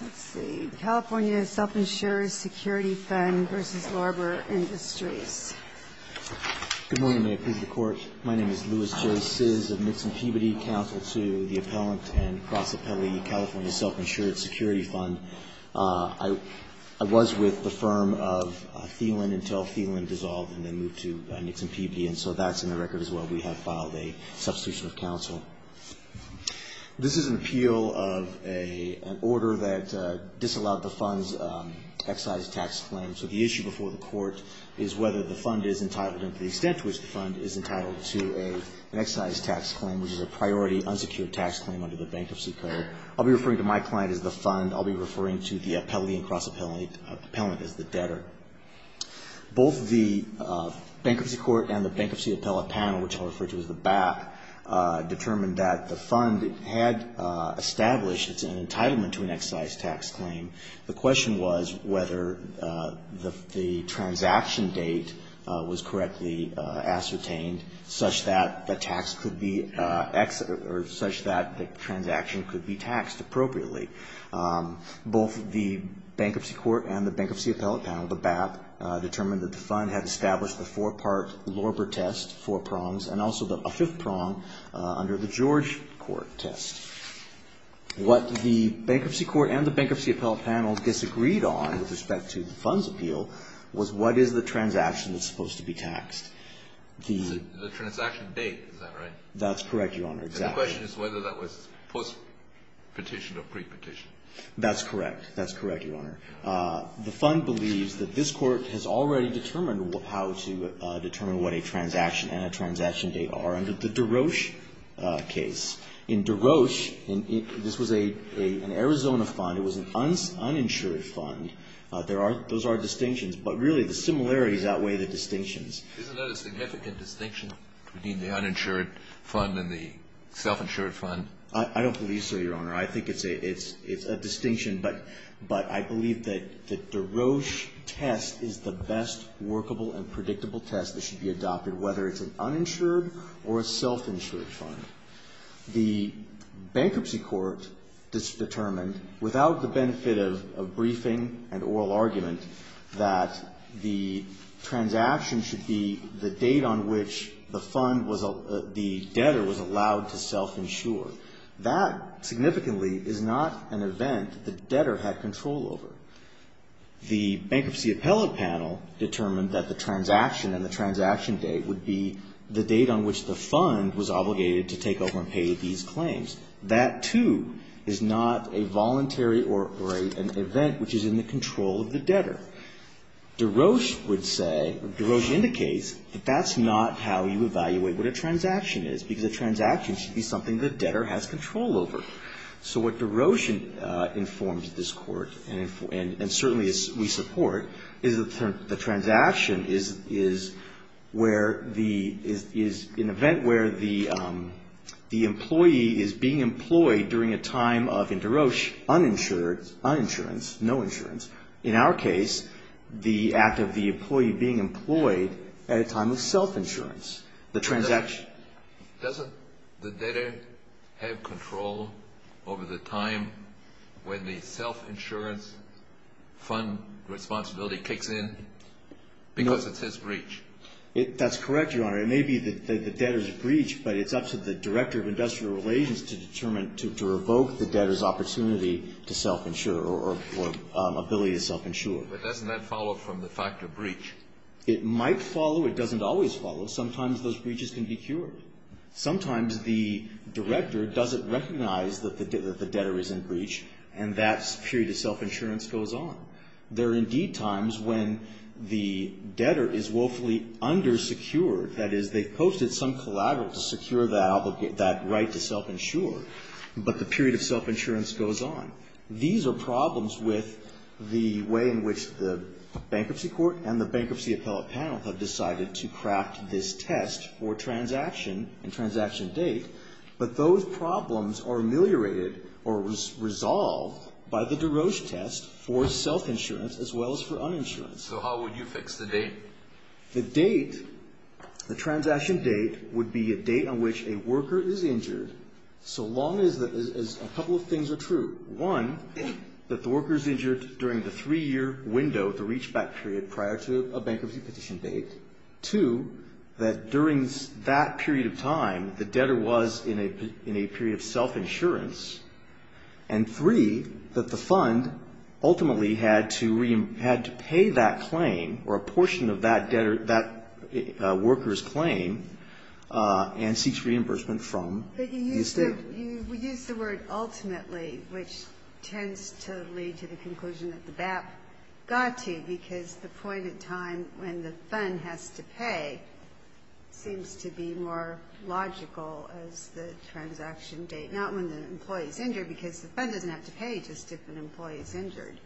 Let's see, California Self-Insured Security Fund v. Larbor Industries. Good morning, Mayor. Please report. My name is Louis J. Ciz of Nixon Peabody Council to the appellant and cross-appellee California Self-Insured Security Fund. I was with the firm of Thielen until Thielen dissolved and then moved to Nixon Peabody, and so that's in the record as well. We have filed a substitution of counsel. This is an appeal of an order that disallowed the fund's excise tax claim, so the issue before the court is whether the fund is entitled and to the extent to which the fund is entitled to an excise tax claim, which is a priority unsecured tax claim under the Bankruptcy Code. I'll be referring to my client as the fund. I'll be referring to the appellee and cross-appellant as the debtor. Both the Bankruptcy Court and the Bankruptcy Appellate Panel, which I'll refer to as the BAP, determined that the fund had established its entitlement to an excise tax claim. The question was whether the transaction date was correctly ascertained such that the tax could be exit or such that the transaction could be taxed appropriately. Both the Bankruptcy Court and the Bankruptcy Appellate Panel, the BAP, determined that the fund had established a four-part Lorber test, four prongs, and also a fifth prong under the George Court test. What the Bankruptcy Court and the Bankruptcy Appellate Panel disagreed on with respect to the fund's appeal was what is the transaction that's supposed to be taxed. The transaction date, is that right? That's correct, Your Honor. And the question is whether that was post-petition or pre-petition. That's correct. That's correct, Your Honor. The fund believes that this Court has already determined how to determine what a transaction and a transaction date are under the DeRoche case. In DeRoche, this was an Arizona fund. It was an uninsured fund. Those are distinctions, but really the similarities outweigh the distinctions. Isn't that a significant distinction between the uninsured fund and the self-insured fund? I don't believe so, Your Honor. I think it's a distinction, but I believe that the DeRoche test is the best workable and predictable test that should be adopted, whether it's an uninsured or a self-insured fund. The Bankruptcy Court determined, without the benefit of briefing and oral argument, that the transaction should be the date on which the fund was the debtor was allowed to self-insure. That significantly is not an event the debtor had control over. The Bankruptcy Appellate Panel determined that the transaction and the transaction date would be the date on which the fund was obligated to take over and pay these claims. That, too, is not a voluntary or an event which is in the control of the debtor. DeRoche would say, or DeRoche indicates, that that's not how you evaluate what a transaction is, because a transaction should be something the debtor has control over. So what DeRoche informs this Court, and certainly we support, is that the transaction is where the, is an event where the employee is being employed during a time of, in DeRoche, uninsured, uninsurance, no insurance. In our case, the act of the employee being employed at a time of self-insurance, the transaction. Doesn't the debtor have control over the time when the self-insurance fund responsibility kicks in? Because it's his breach. That's correct, Your Honor. It may be the debtor's breach, but it's up to the Director of Industrial Relations to determine, to revoke the debtor's opportunity to self-insure or ability to self-insure. But doesn't that follow from the fact of breach? It might follow. It doesn't always follow. Sometimes those breaches can be cured. Sometimes the Director doesn't recognize that the debtor is in breach, and that period of self-insurance goes on. There are, indeed, times when the debtor is woefully undersecured. That is, they've posted some collateral to secure that right to self-insure, but the period of self-insurance goes on. These are problems with the way in which the Bankruptcy Court and the Bankruptcy Appellate Panel have decided to craft this test for transaction and transaction date. But those problems are ameliorated or resolved by the DeRoche test for self-insurance as well as for uninsurance. So how would you fix the date? The date, the transaction date, would be a date on which a worker is injured so long as a couple of things are true. One, that the worker is injured during the three-year window, the reach-back period, prior to a bankruptcy petition date. Two, that during that period of time the debtor was in a period of self-insurance. And three, that the fund ultimately had to pay that claim or a portion of that claim or a portion of that debtor, that worker's claim, and seeks reimbursement from the estate. But you use the word ultimately, which tends to lead to the conclusion that the BAP got to, because the point in time when the fund has to pay seems to be more logical as the transaction date, not when the employee is injured, because the fund doesn't have to pay just if an employee is injured.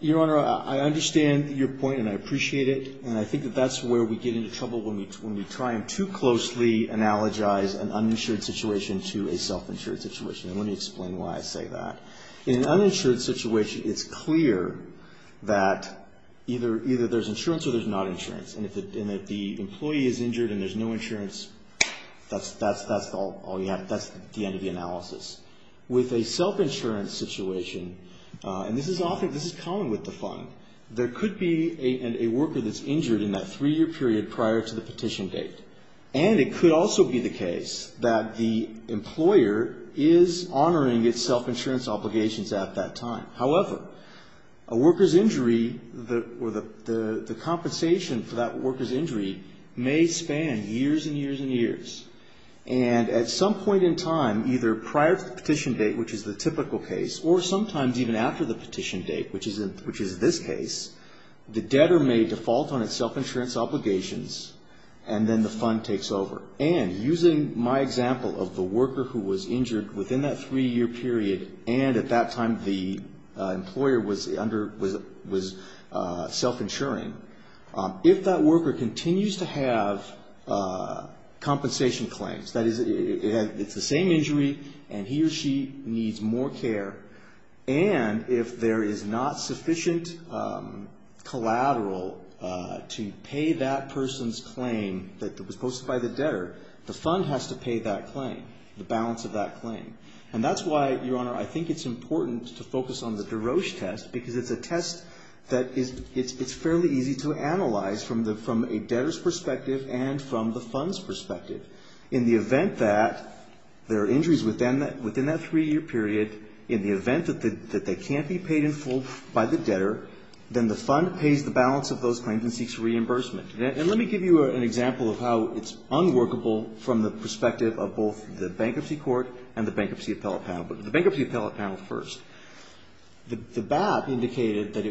Your Honor, I understand your point and I appreciate it. And I think that that's where we get into trouble when we try and too closely analogize an uninsured situation to a self-insured situation. And let me explain why I say that. In an uninsured situation, it's clear that either there's insurance or there's not insurance. And if the employee is injured and there's no insurance, that's the end of the analysis. With a self-insurance situation, and this is common with the fund, there could be a worker that's injured in that three-year period prior to the petition date. And it could also be the case that the employer is honoring its self-insurance obligations at that time. However, a worker's injury or the compensation for that worker's injury may span years and years and years. And at some point in time, either prior to the petition date, which is the typical case, or sometimes even after the petition date, which is this case, the debtor may default on its self-insurance obligations and then the fund takes over. And using my example of the worker who was injured within that three-year period and at that time the employer was self-insuring, if that worker continues to have compensation claims, that is, it's the same injury and he or she needs more care, and if there is not sufficient collateral to pay that person's claim that was posted by the debtor, the fund has to pay that claim, the balance of that claim. And that's why, Your Honor, I think it's important to focus on the DeRoche test because it's a test that is fairly easy to analyze from a debtor's perspective and from the fund's perspective. In the event that there are injuries within that three-year period, in the event that they can't be paid in full by the debtor, then the fund pays the balance of those claims and seeks reimbursement. And let me give you an example of how it's unworkable from the perspective of both the Bankruptcy Court and the Bankruptcy Appellate Panel. But the Bankruptcy Appellate Panel first. The BAP indicated that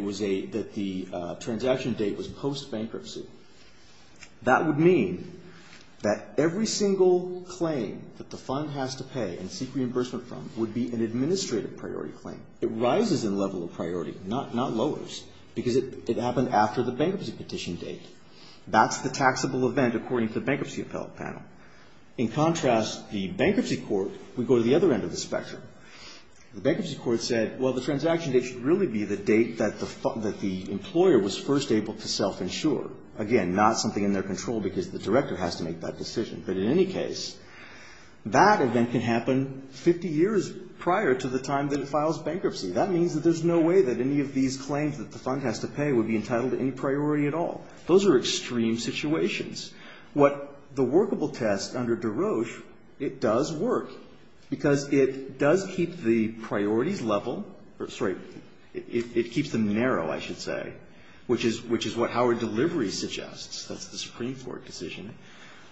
the transaction date was post-bankruptcy. That would mean that every single claim that the fund has to pay and seek reimbursement from would be an administrative priority claim. It rises in level of priority, not lowers, because it happened after the bankruptcy petition date. That's the taxable event according to the Bankruptcy Appellate Panel. In contrast, the Bankruptcy Court would go to the other end of the spectrum. The Bankruptcy Court said, well, the transaction date should really be the date that the employer was first able to self-insure. Again, not something in their control because the director has to make that decision. But in any case, that event can happen 50 years prior to the time that it files bankruptcy. That means that there's no way that any of these claims that the fund has to pay would be entitled to any priority at all. Those are extreme situations. What the workable test under DeRoche, it does work, because it does keep the priorities level or, sorry, it keeps them narrow, I should say, which is what Howard Delivery suggests. That's the Supreme Court decision.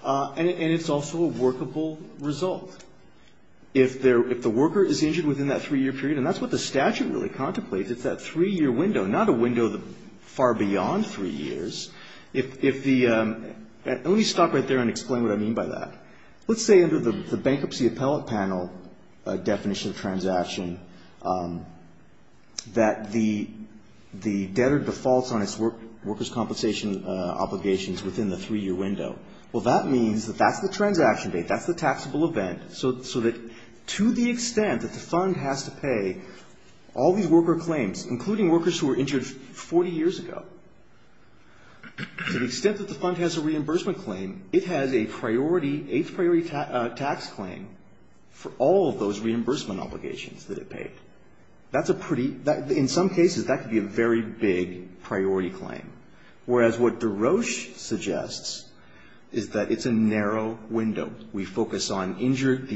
And it's also a workable result. If the worker is injured within that 3-year period, and that's what the statute really contemplates, it's that 3-year window, not a window far beyond 3 years. Let me stop right there and explain what I mean by that. Let's say under the Bankruptcy Appellate Panel definition of transaction that the debtor defaults on its workers' compensation obligations within the 3-year window. Well, that means that that's the transaction date, that's the taxable event, so that to the extent that the fund has to pay all these worker claims, including workers who were injured 40 years ago, to the extent that the fund has a reimbursement claim, it has a priority, eighth priority tax claim for all of those reimbursement obligations that it paid. That's a pretty, in some cases, that could be a very big priority claim, whereas what DeRoche suggests is that it's a narrow window. We focus on the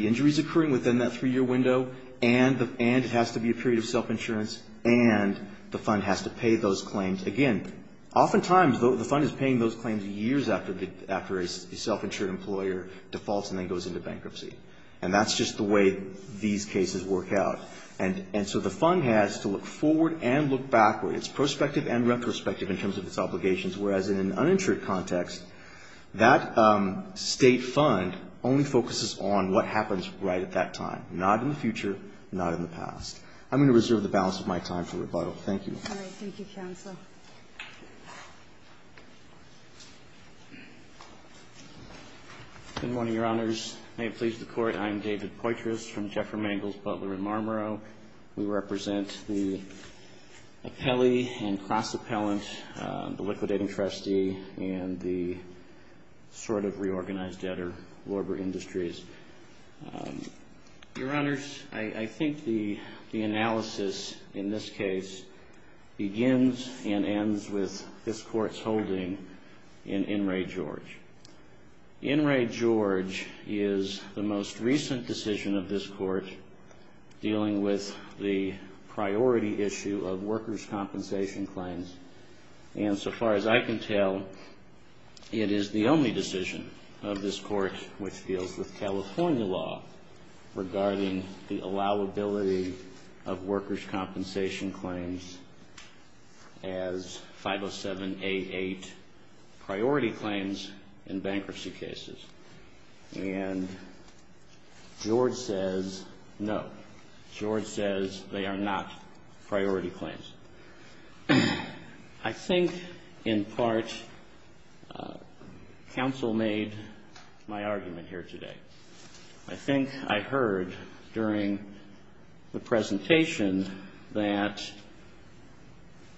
injuries occurring within that 3-year window, and it has to be a self-insurance, and the fund has to pay those claims. Again, oftentimes the fund is paying those claims years after a self-insured employer defaults and then goes into bankruptcy, and that's just the way these cases work out. And so the fund has to look forward and look backward. It's prospective and retrospective in terms of its obligations, whereas in an uninsured context, that state fund only focuses on what happens right at that time, not in the future, not in the past. I'm going to reserve the balance of my time for rebuttal. Thank you. All right. Thank you, Counsel. Good morning, Your Honors. May it please the Court, I am David Poitras from Jeffer Mangels, Butler & Marlborough. We represent the appellee and cross-appellant, the liquidating trustee, and the sort of reorganized debtor, Warbur Industries. Your Honors, I think the analysis in this case begins and ends with this Court's holding in In re. George. In re. George is the most recent decision of this Court dealing with the priority issue of workers' compensation claims, and so far as I can tell, it is the only decision of this Court which deals with California law regarding the allowability of workers' compensation claims as 507-88 priority claims in bankruptcy cases. And George says no. George says they are not priority claims. I think, in part, Counsel made my argument here today. I think I heard during the presentation that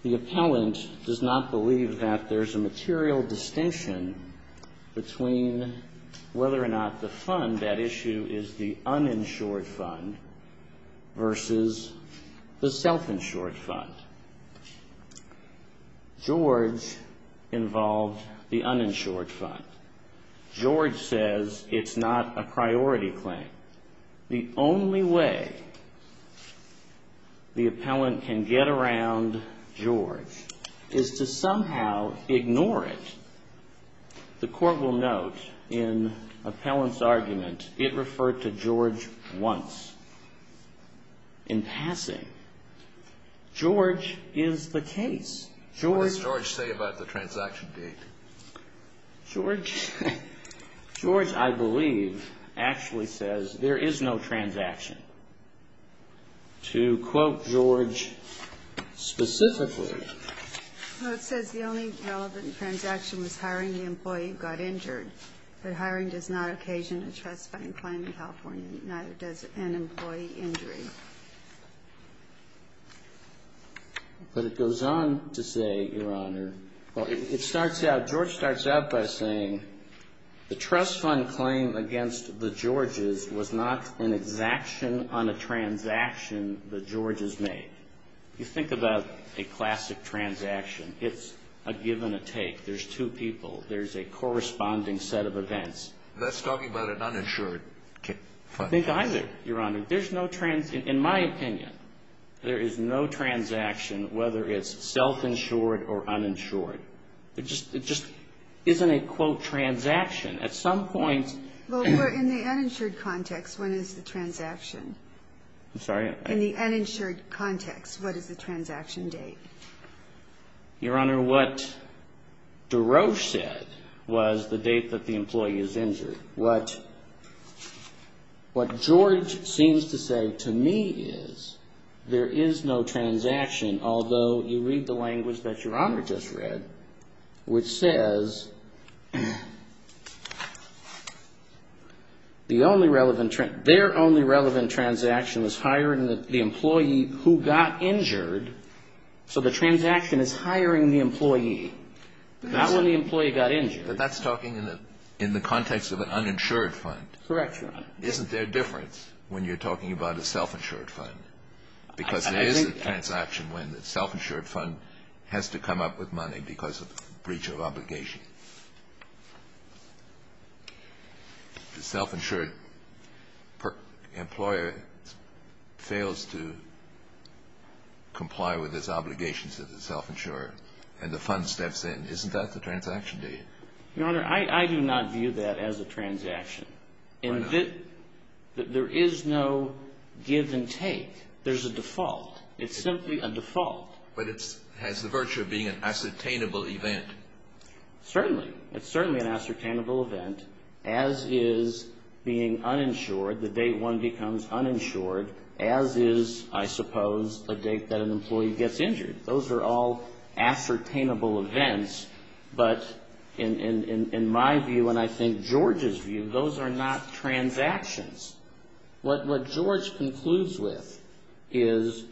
the appellant does not believe that there is a material distinction between whether or not the fund, that issue, is the uninsured fund versus the self-insured fund. George involved the uninsured fund. George says it's not a priority claim. The only way the appellant can get around George is to somehow ignore it. The Court will note in appellant's argument, it referred to George once in passing. George is the case. George. What does George say about the transaction date? George. George, I believe, actually says there is no transaction. To quote George specifically. Well, it says the only relevant transaction was hiring the employee who got injured, but hiring does not occasion a trust fund claim in California, neither does an employee injury. But it goes on to say, Your Honor, well, it starts out, George starts out by saying the trust fund claim against the Georges was not an exaction on a transaction the Georges made. You think about a classic transaction. It's a give and a take. There's two people. There's a corresponding set of events. That's talking about an uninsured fund. I think either, Your Honor. There's no, in my opinion, there is no transaction, whether it's self-insured or uninsured. It just isn't a, quote, transaction. At some point. Well, in the uninsured context, when is the transaction? I'm sorry? In the uninsured context, what is the transaction date? Your Honor, what DeRoche said was the date that the employee is injured. What George seems to say to me is there is no transaction, although you read the language that Your Honor just read, which says the only relevant, their only relevant transaction was hiring the employee who got injured. So the transaction is hiring the employee, not when the employee got injured. But that's talking in the context of an uninsured fund. Correct, Your Honor. Isn't there a difference when you're talking about a self-insured fund? Because there is a transaction when the self-insured fund has to come up with money because of breach of obligation. The self-insured employer fails to comply with his obligations to the self-insurer and the fund steps in. Isn't that the transaction date? Your Honor, I do not view that as a transaction. Why not? There is no give and take. There's a default. It's simply a default. But it has the virtue of being an ascertainable event. Certainly. It's certainly an ascertainable event, as is being uninsured. The date one becomes uninsured, as is, I suppose, a date that an employee gets injured. Those are all ascertainable events. But in my view and I think George's view, those are not transactions. What George concludes with is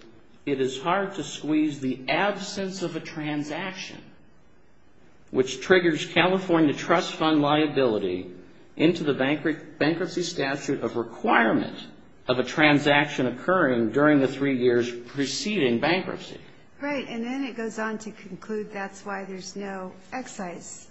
it is hard to squeeze the absence of a transaction, which triggers California trust fund liability, into the bankruptcy statute of requirement of a transaction occurring during the three years preceding bankruptcy. Right, and then it goes on to conclude that's why there's no excise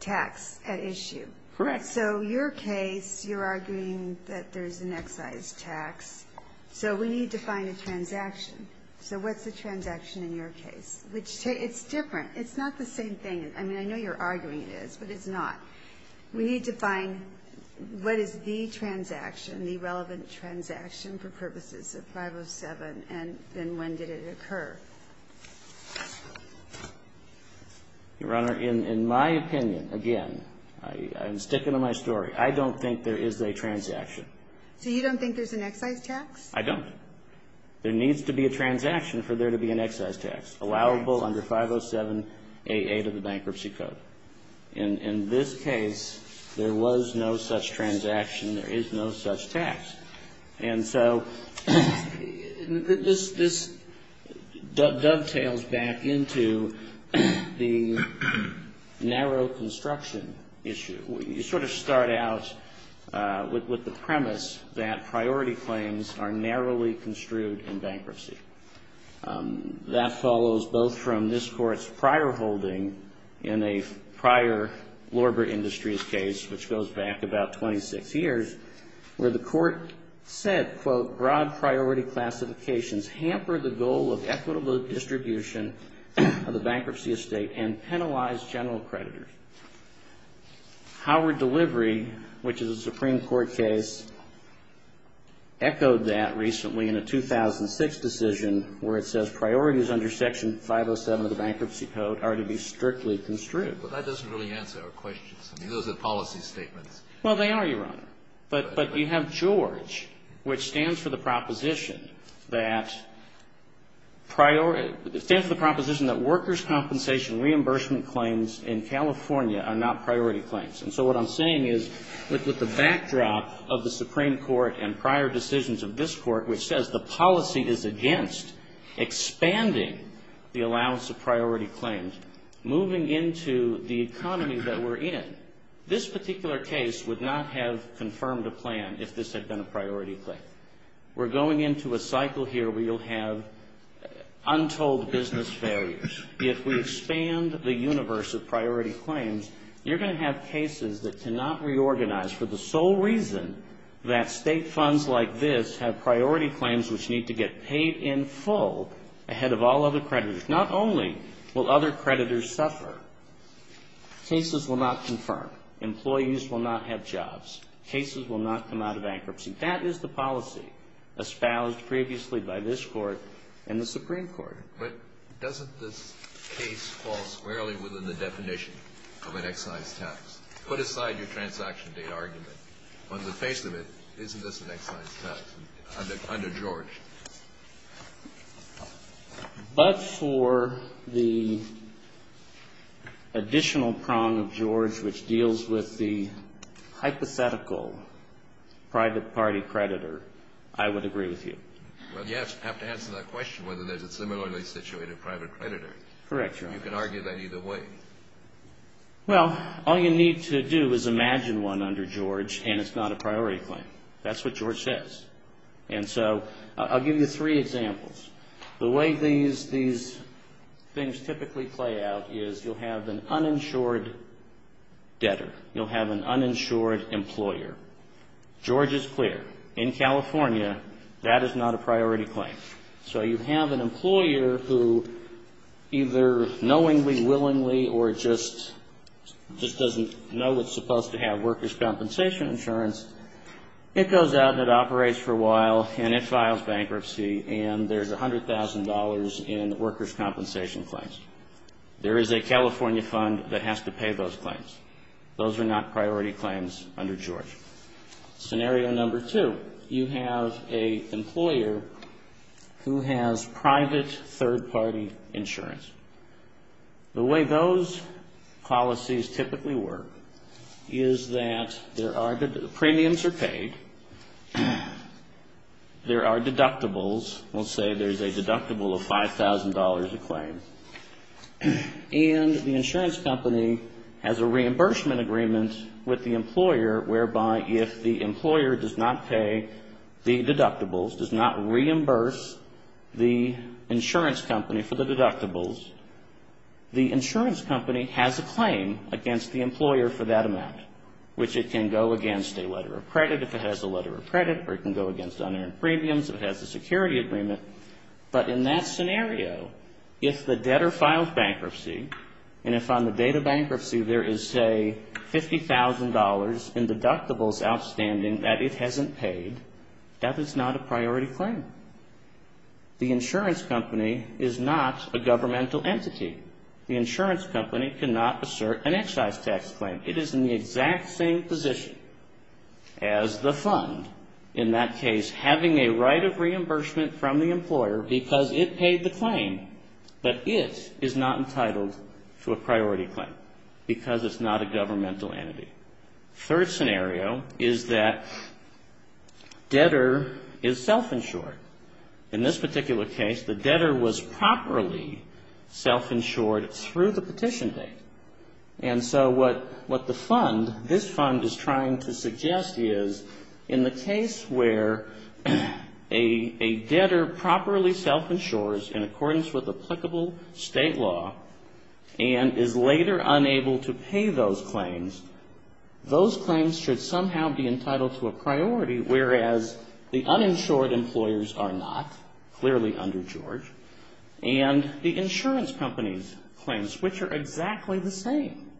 tax at issue. Correct. So your case, you're arguing that there's an excise tax. So we need to find a transaction. So what's the transaction in your case? It's different. It's not the same thing. I mean, I know you're arguing it is, but it's not. We need to find what is the transaction, the relevant transaction for purposes of 507, and then when did it occur? Your Honor, in my opinion, again, I'm sticking to my story. I don't think there is a transaction. So you don't think there's an excise tax? I don't. There needs to be a transaction for there to be an excise tax allowable under 507-88 of the Bankruptcy Code. In this case, there was no such transaction. There is no such tax. And so this dovetails back into the narrow construction issue. You sort of start out with the premise that priority claims are narrowly construed in bankruptcy. That follows both from this Court's prior holding in a prior Lorber Industries case, which goes back about 26 years, where the Court said, quote, broad priority classifications hamper the goal of equitable distribution of the bankruptcy estate and penalize general creditors. Howard Delivery, which is a Supreme Court case, echoed that recently in a 2006 decision where it says priorities under Section 507 of the Bankruptcy Code are to be strictly construed. But that doesn't really answer our questions. I mean, those are policy statements. Well, they are, Your Honor. But you have George, which stands for the proposition that workers' compensation reimbursement claims in California are not priority claims. And so what I'm saying is, with the backdrop of the Supreme Court and prior decisions of this Court, which says the policy is against expanding the allowance of priority claims, moving into the economy that we're in, this particular case would not have confirmed a plan if this had been a priority claim. We're going into a cycle here where you'll have untold business failures. If we expand the universe of priority claims, you're going to have cases that cannot reorganize for the sole reason that state funds like this have priority claims which need to get paid in full ahead of all other creditors. Not only will other creditors suffer, cases will not confirm. Employees will not have jobs. Cases will not come out of bankruptcy. That is the policy espoused previously by this Court and the Supreme Court. But doesn't this case fall squarely within the definition of an excise tax? Put aside your transaction date argument. On the face of it, isn't this an excise tax under George? But for the additional prong of George, which deals with the hypothetical private party creditor, I would agree with you. Well, you have to answer that question whether there's a similarly situated private creditor. Correct, Your Honor. You can argue that either way. Well, all you need to do is imagine one under George, and it's not a priority claim. That's what George says. And so I'll give you three examples. The way these things typically play out is you'll have an uninsured debtor. You'll have an uninsured employer. George is clear. In California, that is not a priority claim. So you have an employer who either knowingly, willingly, or just doesn't know what's supposed to have workers' compensation insurance. It goes out and it operates for a while, and it files bankruptcy, and there's $100,000 in workers' compensation claims. There is a California fund that has to pay those claims. Those are not priority claims under George. Scenario number two, you have an employer who has private third-party insurance. The way those policies typically work is that there are premiums are paid. There are deductibles. We'll say there's a deductible of $5,000 a claim. And the insurance company has a reimbursement agreement with the employer whereby if the insurance company has a claim against the employer for that amount, which it can go against a letter of credit if it has a letter of credit, or it can go against unpaid premiums if it has a security agreement. But in that scenario, if the debtor files bankruptcy, and if on the date of bankruptcy there is, say, $50,000 in deductibles outstanding that it hasn't paid, that is not a priority claim. The insurance company is not a governmental entity. The insurance company cannot assert an excise tax claim. It is in the exact same position as the fund, in that case having a right of reimbursement from the employer because it paid the claim, but it is not entitled to a priority claim because it's not a governmental entity. Third scenario is that debtor is self-insured. In this particular case, the debtor was properly self-insured through the petition date. And so what the fund, this fund, is trying to suggest is in the case where a debtor properly self-insures in accordance with applicable state law and is later unable to pay those claims, those claims should somehow be entitled to a priority, whereas the uninsured employers are not, clearly under George, and the insurance company's claims, which are exactly the same,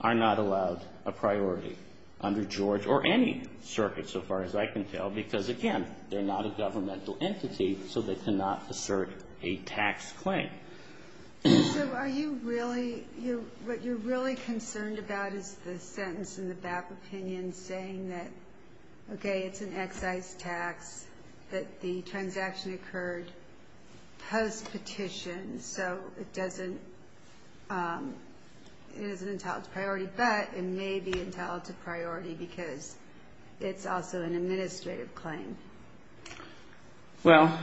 are not allowed a priority under George or any circuit so far as I can tell because, again, they're not a governmental entity, so they cannot assert a tax claim. So are you really, what you're really concerned about is the sentence in the BAP opinion saying that, okay, it's an excise tax, that the transaction occurred post-petition, so it doesn't, it isn't entitled to priority, but it may be entitled to priority because it's also an administrative claim. Well,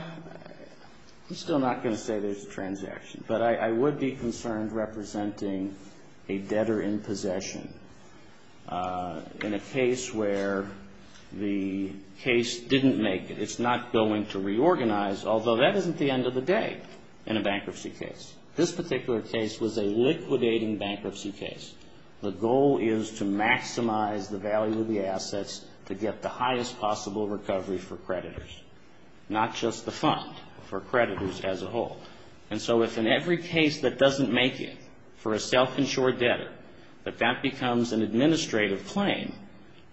I'm still not going to say there's a transaction, but I would be concerned representing a debtor in possession in a case where the case didn't make it. It's not going to reorganize, although that isn't the end of the day in a bankruptcy case. This particular case was a liquidating bankruptcy case. The goal is to maximize the value of the assets to get the highest possible recovery for creditors, not just the fund, for creditors as a whole. And so if in every case that doesn't make it for a self-insured debtor, that that becomes an administrative claim.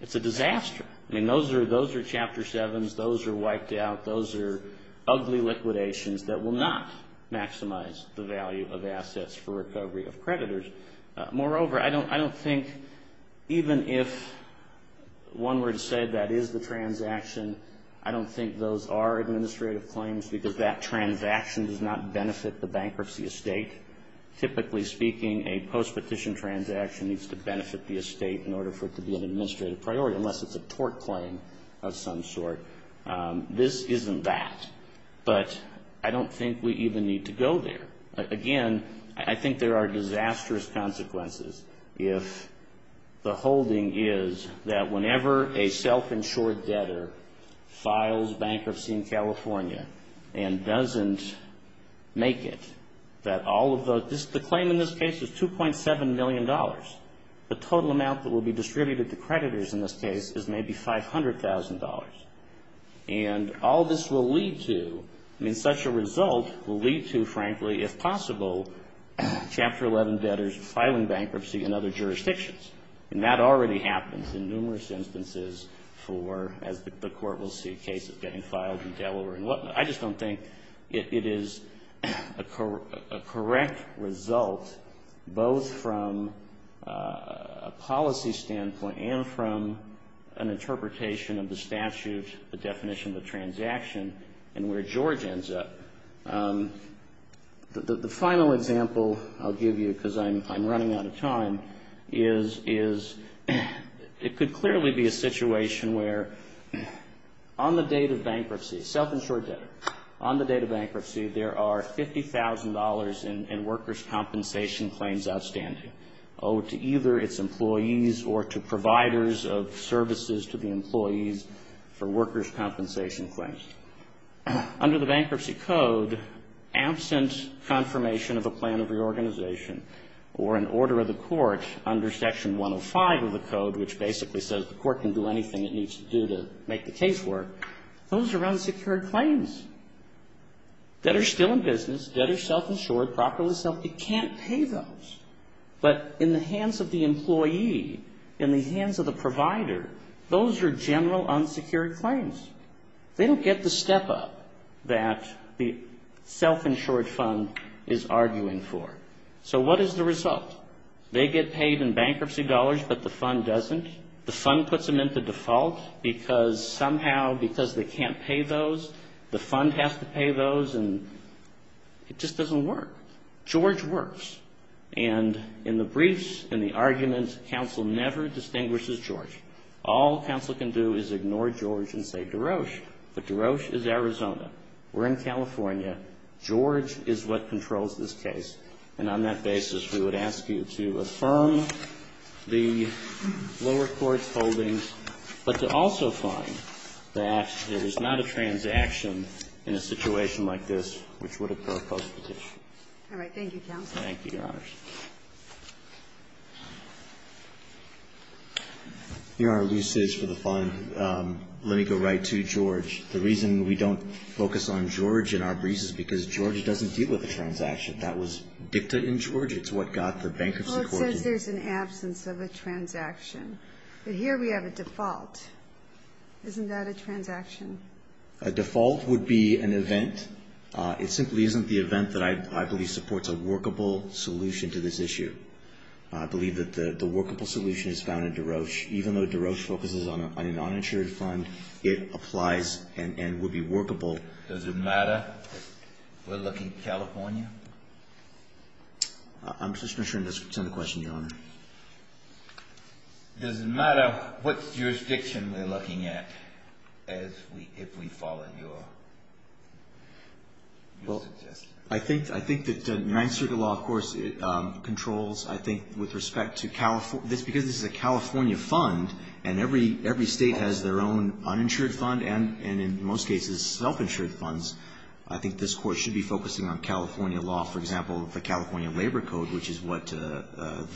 I mean, those are Chapter 7s, those are wiped out, those are ugly liquidations that will not maximize the value of assets for recovery of creditors. Moreover, I don't think even if one were to say that is the transaction, I don't think those are administrative claims. I don't think we even need to go there. Again, I think there are disastrous consequences if the holding is that whenever a self-insured debtor files bankruptcy in California and doesn't make it, that all of those, the claim in this case is $2.7 million. The total amount that will be distributed to creditors in this case is maybe $500,000. And all this will lead to, I mean, such a result will lead to, frankly, if possible, Chapter 11 debtors filing bankruptcy in other jurisdictions. And that already happens in numerous instances for, as the Court will see, cases getting filed in Delaware and whatnot. But I just don't think it is a correct result, both from a policy standpoint and from an interpretation of the statute, the definition of the transaction, and where George ends up. The final example I'll give you, because I'm running out of time, is it could clearly be a situation where on the date of bankruptcy there are $50,000 in workers' compensation claims outstanding owed to either its employees or to providers of services to the employees for workers' compensation claims. Under the Bankruptcy Code, absent confirmation of a plan of reorganization or an order of the Court under Section 105 of the Code, which basically says the Court can do anything it needs to do to make the case work, those are unsecured claims. Debtors still in business, debtors self-insured, properly self-insured, can't pay those. But in the hands of the employee, in the hands of the provider, those are general unsecured claims. They don't get the step-up that the self-insured fund is arguing for. So what is the result? They get paid in bankruptcy dollars, but the fund doesn't. The fund puts them into default because somehow, because they can't pay those, the fund has to pay those, and it just doesn't work. George works. And in the briefs, in the arguments, counsel never distinguishes George. All counsel can do is ignore George and say DeRoche, but DeRoche is Arizona. We're in California. George is what controls this case. And that's what we're trying to do, is to not only find the bankruptcy court's holdings, but to also find that there is not a transaction in a situation like this which would have caused the petition. All right. Thank you, counsel. Thank you, Your Honors. Your Honor, let me go right to George. The reason we don't focus on George in our briefs is because George doesn't deal with a transaction. That was dicta in George. It's what got the bankruptcy court to... Well, it says there's an absence of a transaction. But here we have a default. Isn't that a transaction? A default would be an event. It simply isn't the event that I believe supports a workable solution to this issue. I believe that the workable solution is found in DeRoche. Even though DeRoche focuses on an uninsured fund, it applies and would be workable. Does it matter if we're looking at California? I'm just not sure that's the question, Your Honor. Does it matter what jurisdiction we're looking at, if we follow your suggestion? I think that Ninth Circuit law, of course, controls, I think, with respect to California. Because this is a California fund, and every State has their own uninsured fund, and in most cases self-insured, I think this Court should be focusing on California law, for example, the California Labor Code, which is what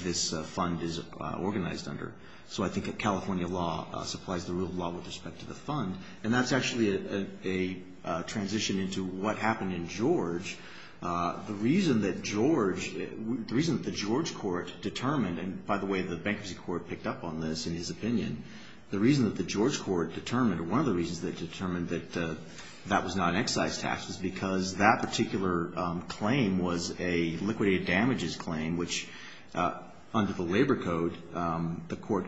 this fund is organized under. So I think California law supplies the rule of law with respect to the fund. And that's actually a transition into what happened in George. The reason that George, the reason that the George court determined, and by the way, the bankruptcy court picked up on this, in his opinion, the reason that the George court determined, or one of the reasons that it determined that that was not an excise tax was because that particular claim was a liquidated damages claim, which under the Labor Code, the court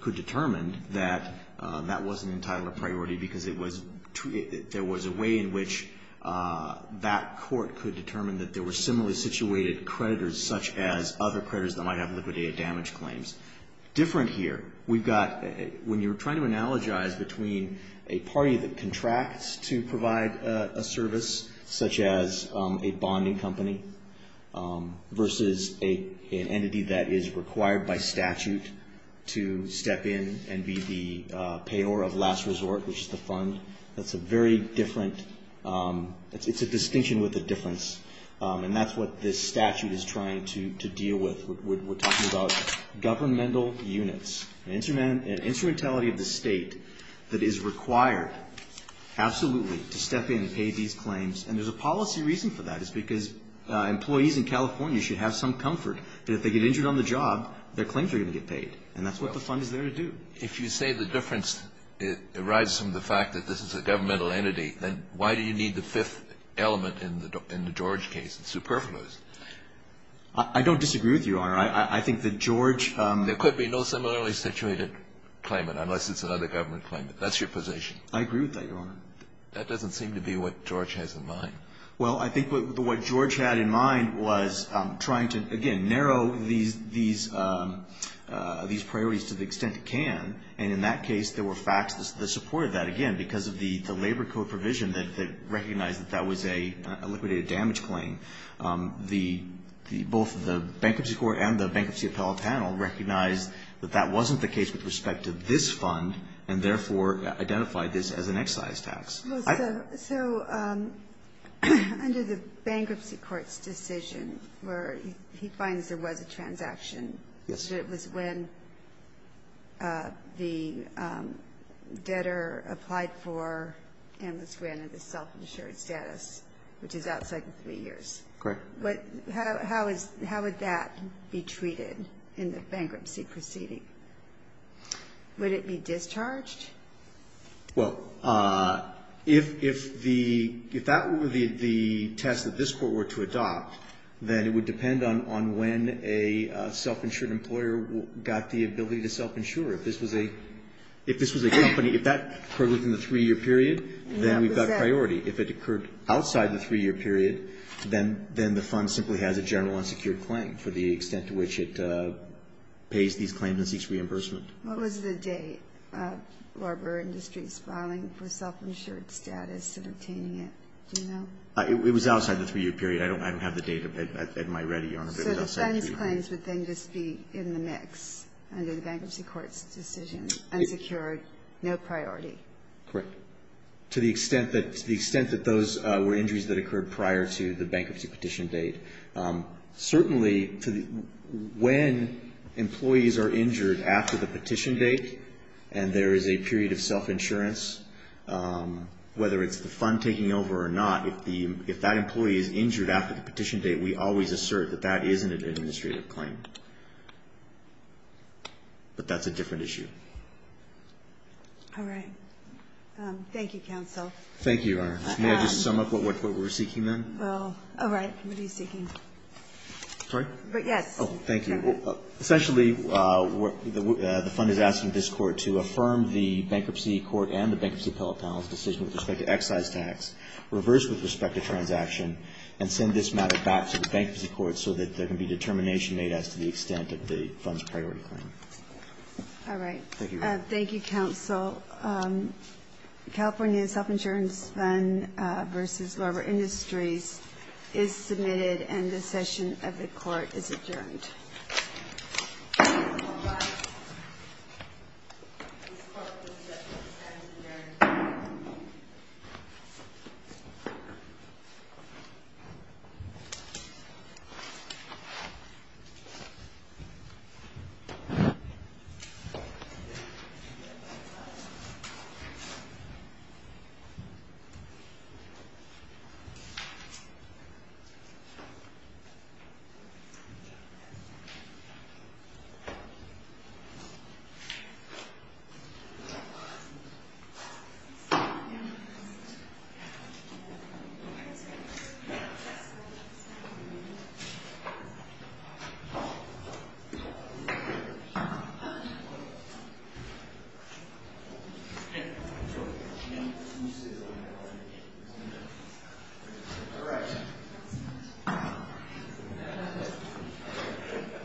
could determine that that wasn't an entitlement priority, because there was a way in which that court could determine that there were similarly situated creditors, such as other creditors that might have liquidated damage claims. Different here, we've got, when you're trying to analogize between a party that contracts to provide a service, such as a bonding company, versus an entity that is required by statute to step in and be the payor of last resort, which is the fund, that's a very different, it's a distinction with a difference, and that's what this statute is trying to deal with. We're talking about governmental units, instrumentality of the state that is required, absolutely, to step in and pay these claims. And there's a policy reason for that, it's because employees in California should have some comfort that if they get injured on the job, their claims are going to get paid, and that's what the fund is there to do. If you say the difference arises from the fact that this is a governmental entity, then why do you need the fifth element in the George case? It's superfluous. I don't disagree with you, Your Honor. I think that George... There could be no similarly situated claimant, unless it's another government claimant. That's your position. I agree with that, Your Honor. That doesn't seem to be what George has in mind. Well, I think what George had in mind was trying to, again, narrow these priorities to the extent it can, and in that case, there were facts that supported that. Again, because of the labor code provision that recognized that that was a liquidated damage claim, both the Bankruptcy Court and the Bankruptcy Appellate Panel recognized that that wasn't the case with respect to this fund, and therefore identified this as an excise tax. So under the Bankruptcy Court's decision where he finds there was a transaction, it was when the debtor applied for and was granted the self-insured status, which is outside of three years. Correct. How would that be treated in the bankruptcy proceeding? Would it be discharged? If that were the test that this Court were to adopt, then it would depend on when a self-insured employer got the ability to self-insure. If this was a company, if that occurred within the three-year period, then we've got priority. If it occurred outside the three-year period, then the fund simply has a general unsecured claim for the extent to which it pays these claims and seeks reimbursement. What was the date of Barber Industries filing for self-insured status and obtaining it? Do you know? It was outside the three-year period. I don't have the date at my ready, Your Honor, but it was outside the three-year period. So the funds claims would then just be in the mix under the Bankruptcy Court's decision, unsecured, no priority? Correct. To the extent that those were injuries that occurred prior to the bankruptcy petition date. And there is a period of self-insurance, whether it's the fund taking over or not, if that employee is injured after the petition date, we always assert that that isn't an administrative claim. But that's a different issue. Thank you, Your Honor. May I just sum up what we're seeking then? Well, all right. What are you seeking? Essentially, the fund is asking this Court to affirm the Bankruptcy Court and the Bankruptcy Appellate panel's decision with respect to excise tax, reverse with respect to transaction, and send this matter back to the Bankruptcy Court so that there can be determination made as to the extent of the fund's priority claim. All right. Thank you, Counsel. The motion is submitted and the session of the Court is adjourned. Thank you. Thank you.